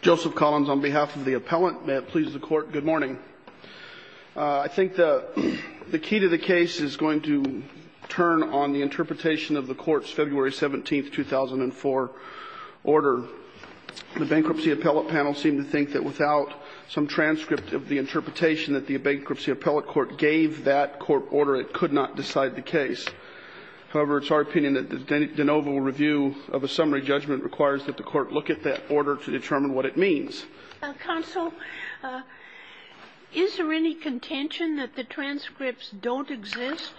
Joseph Collins on behalf of the appellant. May it please the Court, good morning. I think the key to the case is going to turn on the interpretation of the Court's February 17, 2004, order. The bankruptcy appellate panel seemed to think that without some transcript of the interpretation that the bankruptcy appellate court gave that court order, it could not decide the case. However, it's our opinion that the de novo review of a summary judgment requires that the court look at that order to determine what it means. Counsel, is there any contention that the transcripts don't exist?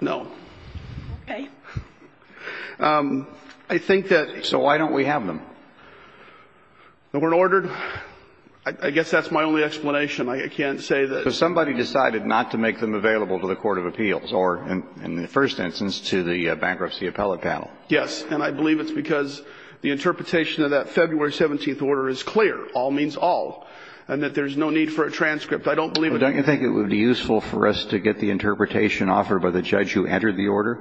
No. Okay. I think that so why don't we have them? They weren't ordered. I guess that's my only explanation. I can't say that somebody decided not to make them available to the court of appeals or, in the first instance, to the bankruptcy appellate panel. Yes. And I believe it's because the interpretation of that February 17 order is clear. All means all. And that there's no need for a transcript. I don't believe it. Don't you think it would be useful for us to get the interpretation offered by the judge who entered the order?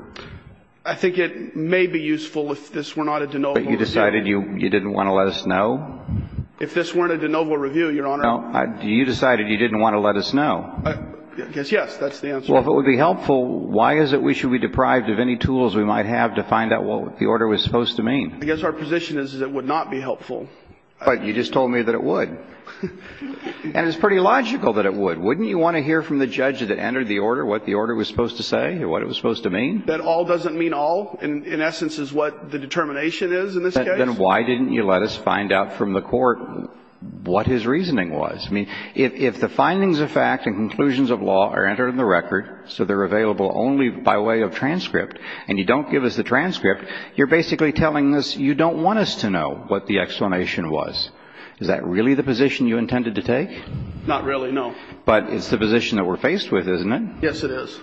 I think it may be useful if this were not a de novo review. But you decided you didn't want to let us know? If this weren't a de novo review, Your Honor. No. You decided you didn't want to let us know. I guess, yes. That's the answer. Well, if it would be helpful, why is it we should be deprived of any tools we might have to find out what the order was supposed to mean? I guess our position is that it would not be helpful. But you just told me that it would. And it's pretty logical that it would. Wouldn't you want to hear from the judge that entered the order what the order was supposed to say or what it was supposed to mean? That all doesn't mean all, in essence, is what the determination is in this case? Then why didn't you let us find out from the court what his reasoning was? I mean, if the findings of fact and conclusions of law are entered in the record, so they're available only by way of transcript, and you don't give us the transcript, you're basically telling us you don't want us to know what the explanation was. Is that really the position you intended to take? Not really, no. But it's the position that we're faced with, isn't it? Yes, it is.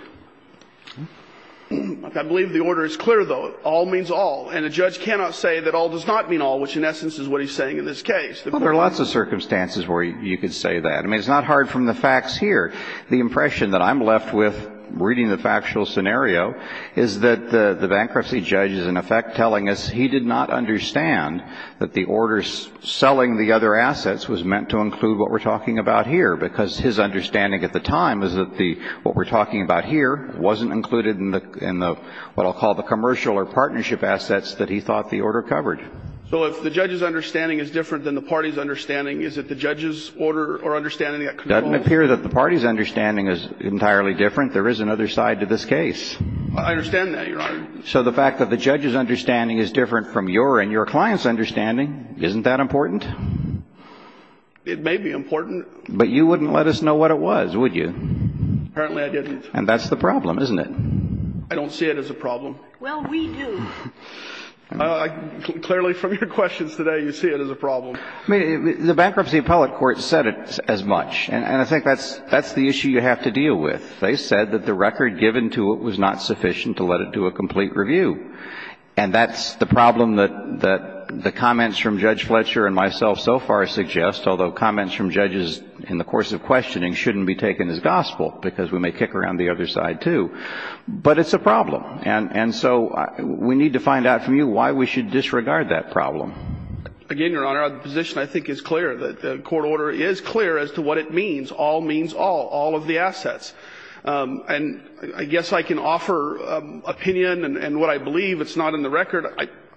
I believe the order is clear, though. All means all. And a judge cannot say that all does not mean all, which, in essence, is what he's saying in this case. Well, there are lots of circumstances where you could say that. I mean, it's not hard from the facts here. The impression that I'm left with reading the factual scenario is that the bankruptcy judge is, in effect, telling us he did not understand that the order selling the other assets was meant to include what we're talking about here, because his understanding at the time was that what we're talking about here wasn't included in the, what I'll call the commercial or partnership assets that he thought the order covered. So if the judge's understanding is different than the party's understanding, is it the judge's order or understanding that controls? It doesn't appear that the party's understanding is entirely different. There is another side to this case. I understand that, Your Honor. So the fact that the judge's understanding is different from your and your client's understanding, isn't that important? It may be important. But you wouldn't let us know what it was, would you? Apparently, I didn't. And that's the problem, isn't it? I don't see it as a problem. Well, we do. Clearly, from your questions today, you see it as a problem. I mean, the bankruptcy appellate court said it as much. And I think that's the issue you have to deal with. They said that the record given to it was not sufficient to let it do a complete review. And that's the problem that the comments from Judge Fletcher and myself so far suggest, although comments from judges in the course of questioning shouldn't be taken as gospel, because we may kick around the other side, too. But it's a problem. And so we need to find out from you why we should disregard that problem. Again, Your Honor, the position, I think, is clear. The court order is clear as to what it means. All means all, all of the assets. And I guess I can offer opinion. And what I believe, it's not in the record.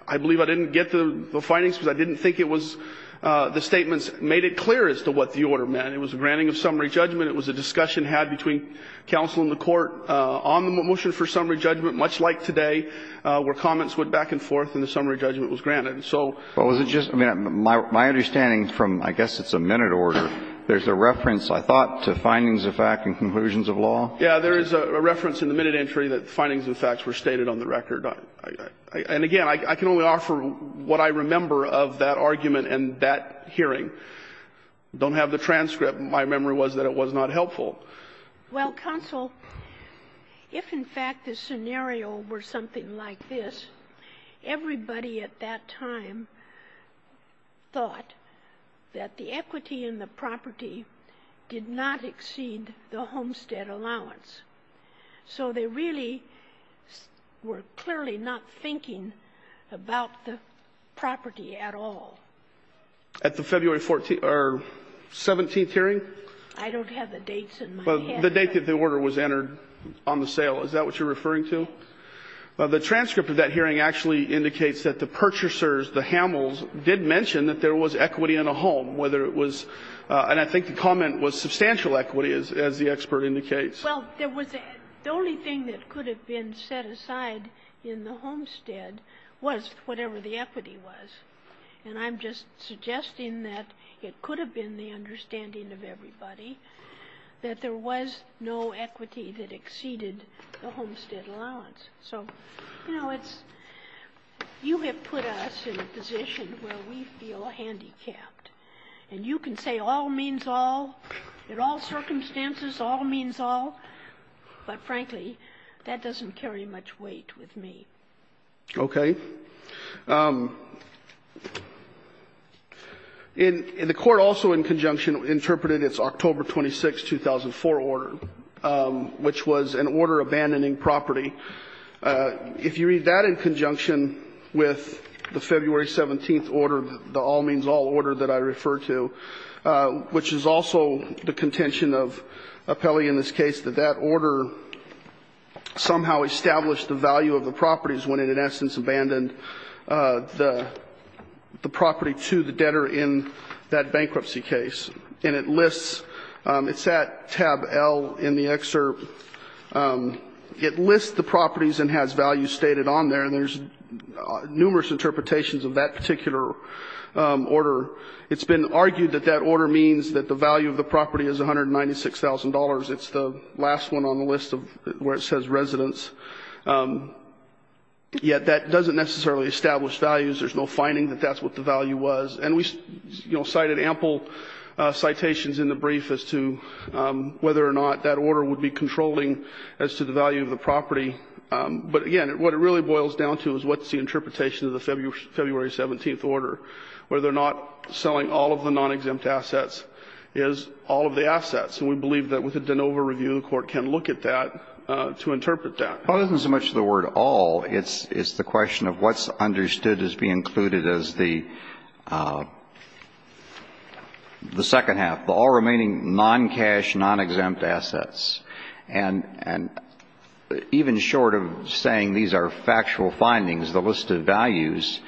I believe I didn't get the findings, because I didn't think it was the statements made it clear as to what the order meant. It was a granting of summary judgment. It was a discussion had between counsel and the court on the motion for summary judgment, much like today, where comments went back and forth and the summary judgment was granted. And so what was it just my understanding from, I guess it's a minute order, there's a reference, I thought, to findings of fact and conclusions of law. Yeah, there is a reference in the minute entry that findings and facts were stated on the record. And again, I can only offer what I remember of that argument and that hearing. Don't have the transcript. My memory was that it was not helpful. Well, counsel, if in fact the scenario were something like this, everybody at that time thought that the equity in the property did not exceed the homestead allowance. So they really were clearly not thinking about the property at all. At the February 14th or 17th hearing? I don't have the dates in my head. The date that the order was entered on the sale, is that what you're referring to? The transcript of that hearing actually indicates that the purchasers, the Hamels, did mention that there was equity in a home, whether it was and I think the comment was substantial equity, as the expert indicates. Well, there was a the only thing that could have been set aside in the homestead was whatever the equity was. And I'm just suggesting that it could have been the understanding of everybody that there was no equity that exceeded the homestead allowance. So you have put us in a position where we feel handicapped. And you can say all means all. In all circumstances, all means all. But frankly, that doesn't carry much weight with me. Okay. And the court also in conjunction interpreted its October 26, 2004 order, which was an order abandoning property. If you read that in conjunction with the February 17th order, the all means all order that I referred to, which is also the contention of Apelli in this case, that that order did not establish the value of the properties when it in essence abandoned the property to the debtor in that bankruptcy case. And it lists, it's at tab L in the excerpt, it lists the properties and has value stated on there, and there's numerous interpretations of that particular order. It's been argued that that order means that the value of the property is $196,000. It's the last one on the list where it says residence. Yet that doesn't necessarily establish values. There's no finding that that's what the value was. And we cited ample citations in the brief as to whether or not that order would be controlling as to the value of the property. But again, what it really boils down to is what's the interpretation of the February 17th order. Whether or not selling all of the non-exempt assets is all of the assets. And we believe that with a de novo review, the Court can look at that to interpret that. Well, it isn't so much the word all. It's the question of what's understood as being included as the second half, the all remaining non-cash, non-exempt assets. And even short of saying these are factual findings, the listed values,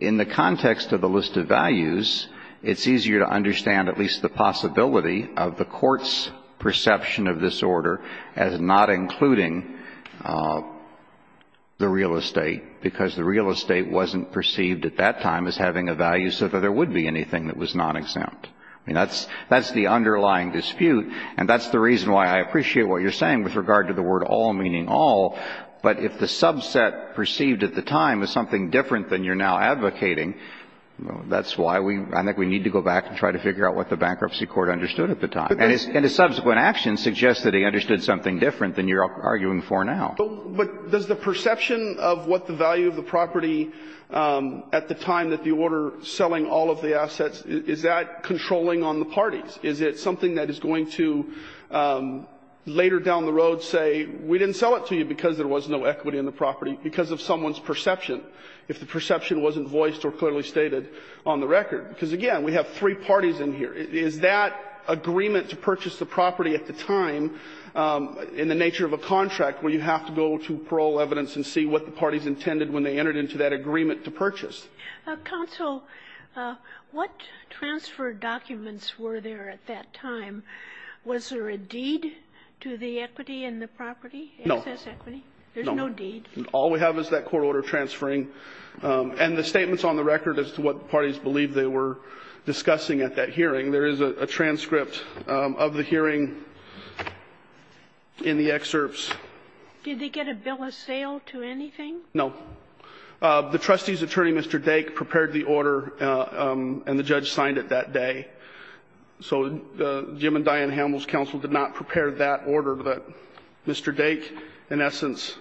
in the context of the listed values, it's easier to understand at least the possibility of the Court's perception of this order as not including the real estate, because the real estate wasn't perceived at that time as having a value so that there would be anything that was non-exempt. I mean, that's the underlying dispute. And that's the reason why I appreciate what you're saying with regard to the word all meaning all. But if the subset perceived at the time is something different than you're now advocating, that's why we need to go back and try to figure out what the Bankruptcy Court understood at the time. And the subsequent action suggests that he understood something different than you're arguing for now. But does the perception of what the value of the property at the time that the order selling all of the assets, is that controlling on the parties? Is it something that is going to later down the road say we didn't sell it to you because there was no equity in the property because of someone's perception, if the perception wasn't voiced or clearly stated on the record? Because, again, we have three parties in here. Is that agreement to purchase the property at the time, in the nature of a contract, where you have to go to parole evidence and see what the parties intended when they entered into that agreement to purchase? Kagan. What transfer documents were there at that time? Was there a deed to the equity in the property? No. There's no deed. All we have is that court order transferring. And the statements on the record as to what the parties believed they were discussing at that hearing, there is a transcript of the hearing in the excerpts. Did they get a bill of sale to anything? No. The trustee's attorney, Mr. Dake, prepared the order, and the judge signed it that day. So Jim and Diane Hamel's counsel did not prepare that order, but Mr. Dake in essence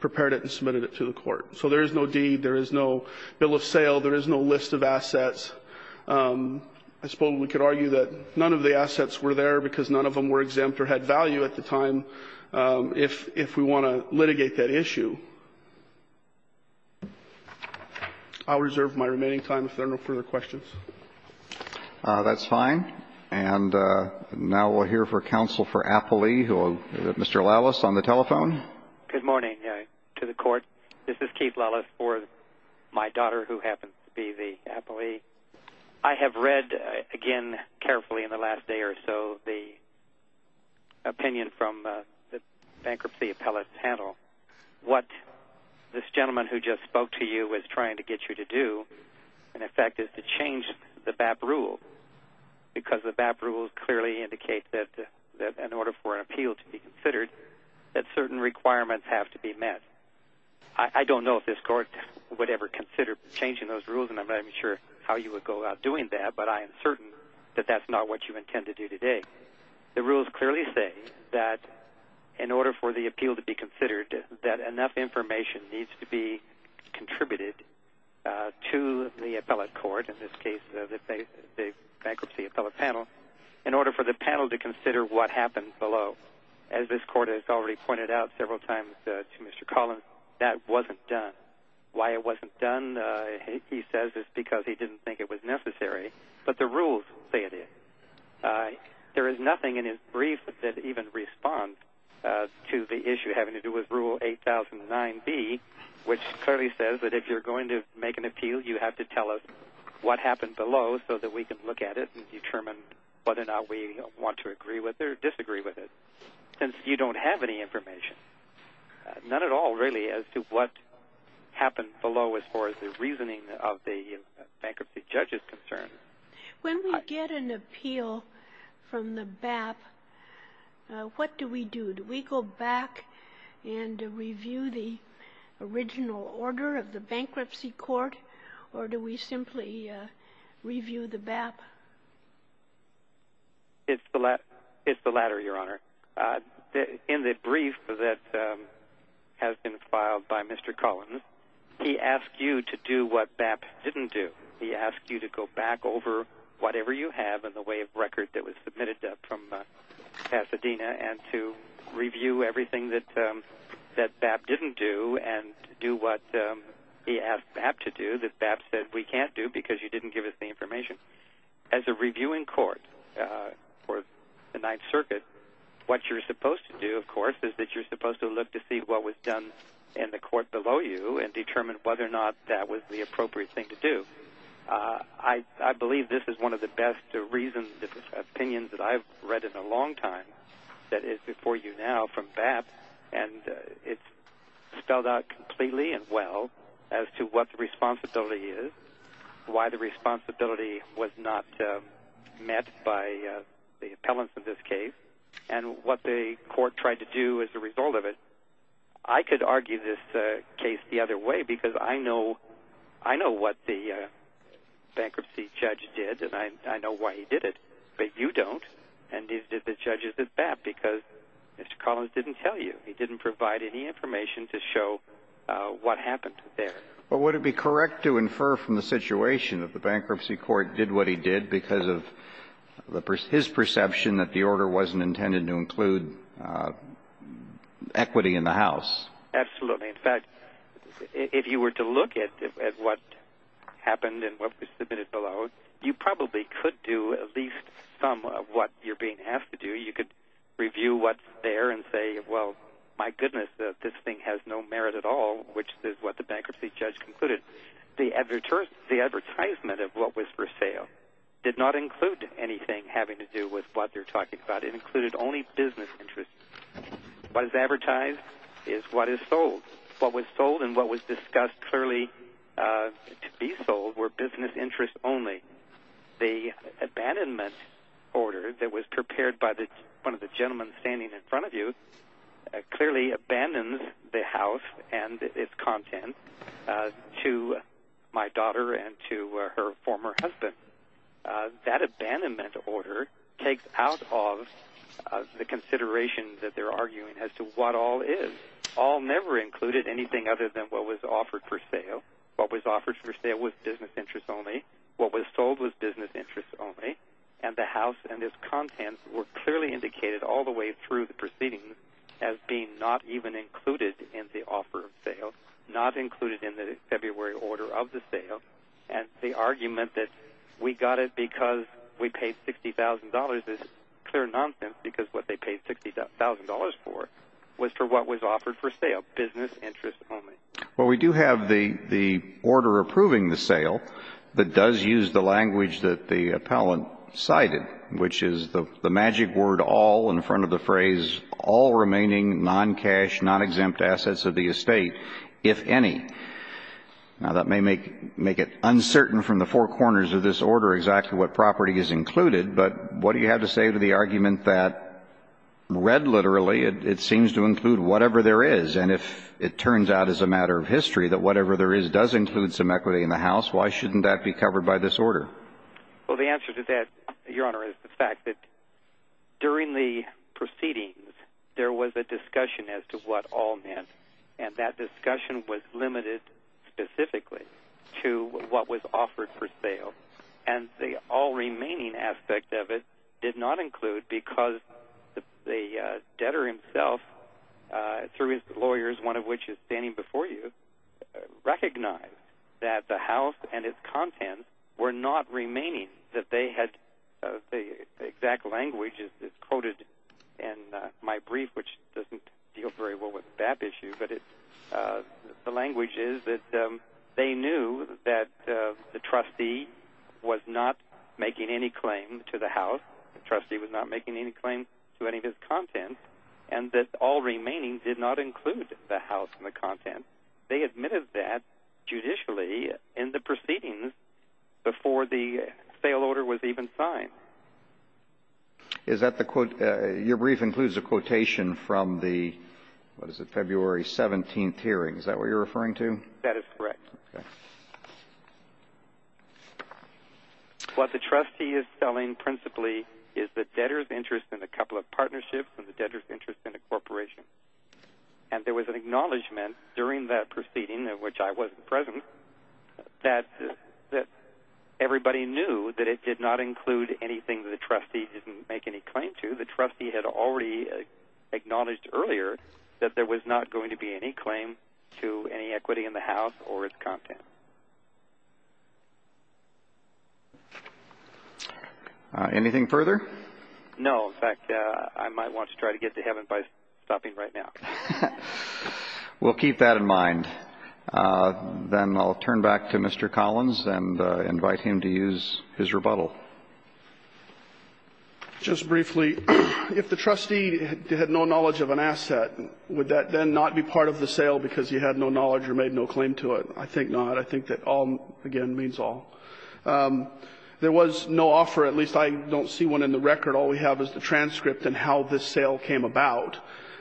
prepared it and submitted it to the court. So there is no deed. There is no bill of sale. There is no list of assets. I suppose we could argue that none of the assets were there because none of them were exempt or had value at the time if we want to litigate that issue. I'll reserve my remaining time if there are no further questions. That's fine. And now we'll hear from counsel for Applee, Mr. Lallis, on the telephone. Good morning to the court. This is Keith Lallis for my daughter, who happens to be the Applee. I have read again carefully in the last day or so the opinion from the bankruptcy appellate panel what this gentleman who just spoke to you was trying to get you to do, in effect, is to change the BAP rule because the BAP rule clearly indicates that in order for an appeal to be considered that certain requirements have to be met. I don't know if this court would ever consider changing those rules, and I'm not even sure how you would go about doing that, but I am certain that that's not what you intend to do today. The rules clearly say that in order for the appeal to be considered that enough information needs to be contributed to the appellate court, in this case the bankruptcy appellate panel, in order for the panel to consider what happened below. As this court has already pointed out several times to Mr. Collins, that wasn't done. Why it wasn't done, he says, is because he didn't think it was necessary, but the There is nothing in his brief that even responds to the issue having to do with Rule 8009B, which clearly says that if you're going to make an appeal, you have to tell us what happened below so that we can look at it and determine whether or not we want to agree with it or disagree with it, since you don't have any information, none at all, really, as to what happened below as far as the reasoning of the bankruptcy judge is concerned. When we get an appeal from the BAP, what do we do? Do we go back and review the original order of the bankruptcy court, or do we simply review the BAP? It's the latter, Your Honor. In the brief that has been filed by Mr. Collins, he asked you to do what BAP didn't do. He asked you to go back over whatever you have in the way of record that was submitted from Pasadena and to review everything that BAP didn't do and do what he asked BAP to do that BAP said we can't do because you didn't give us the information. As a reviewing court for the Ninth Circuit, what you're supposed to do, of course, is that you're supposed to look to see what was done in the court below you and determine whether or not that was the appropriate thing to do. I believe this is one of the best opinions that I've read in a long time that is before you now from BAP, and it's spelled out completely and well as to what the responsibility is, why the responsibility was not met by the appellants in this case, and what the court tried to do as a result of it. I could argue this case the other way because I know what the bankruptcy judge did, and I know why he did it, but you don't, and the judges at BAP, because Mr. Collins didn't tell you. He didn't provide any information to show what happened there. Well, would it be correct to infer from the situation that the bankruptcy court did what he did because of his perception that the order wasn't intended to include equity in the House? Absolutely. In fact, if you were to look at what happened and what was submitted below, you probably could do at least some of what you're being asked to do. You could review what's there and say, well, my goodness, this thing has no merit at all, which is what the bankruptcy judge concluded. The advertisement of what was for sale did not include anything having to do with what they're talking about. It included only business interests. What is advertised is what is sold. What was sold and what was discussed clearly to be sold were business interests only. The abandonment order that was prepared by one of the gentlemen standing in front of you clearly abandons the House and its content to my daughter and to her former husband. That abandonment order takes out of the consideration that they're arguing as to what all is. All never included anything other than what was offered for sale. What was offered for sale was business interests only. What was sold was business interests only. And the House and its content were clearly indicated all the way through the proceedings as being not even included in the offer of sale, not included in the February order of the sale. And the argument that we got it because we paid $60,000 is clear nonsense because what they paid $60,000 for was for what was offered for sale, business interests only. Well, we do have the order approving the sale that does use the language that the appellant cited, which is the magic word all in front of the phrase all remaining non-cash, non-exempt assets of the estate if any. Now, that may make it uncertain from the four corners of this order exactly what property is included, but what do you have to say to the argument that read literally it seems to include whatever there is and if it turns out as a matter of history that whatever there is does include some equity in the House, why shouldn't that be covered by this order? Well, the answer to that, Your Honor, is the fact that during the proceedings, there was a discussion as to what all meant, and that discussion was limited specifically to what was offered for sale. And the all remaining aspect of it did not include because the debtor himself, through his lawyers, one of which is standing before you, recognized that the House and its contents were not remaining, that they had the exact language is quoted in my brief, which doesn't deal very well with the BAP issue, but the language is that they knew that the trustee was not making any claim to the House, the trustee was not making any claim to any of his contents, and that all remaining did not include the House and the contents. They admitted that judicially in the proceedings before the sale order was even signed. Your brief includes a quotation from the, what is it, February 17th hearing. Is that what you're referring to? That is correct. What the trustee is selling principally is the debtor's interest in a couple of partnerships and the debtor's interest in a corporation. And there was an acknowledgment during that proceeding, of which I wasn't present, that everybody knew that it did not include anything that the trustee didn't make any claim to. The trustee had already acknowledged earlier that there was not going to be any claim to any equity in the House or its contents. Anything further? No. In fact, I might want to try to get to heaven by stopping right now. We'll keep that in mind. Then I'll turn back to Mr. Collins and invite him to use his rebuttal. Just briefly, if the trustee had no knowledge of an asset, would that then not be part of the sale because he had no knowledge or made no claim to it? I think not. I think that all, again, means all. There was no offer. At least I don't see one in the record. All we have is the transcript and how this sale came about.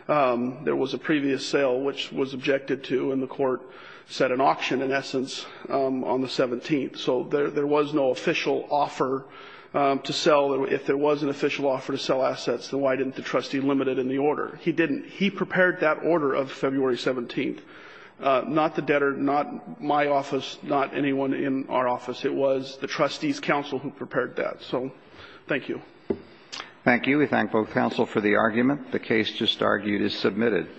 There was a previous sale, which was objected to, and the court set an auction, in essence, on the 17th. So there was no official offer to sell. If there was an official offer to sell assets, then why didn't the trustee limit it in the order? He didn't. He prepared that order of February 17th. Not the debtor, not my office, not anyone in our office. It was the trustee's counsel who prepared that. So thank you. Thank you. We thank both counsel for the argument. The case just argued is submitted.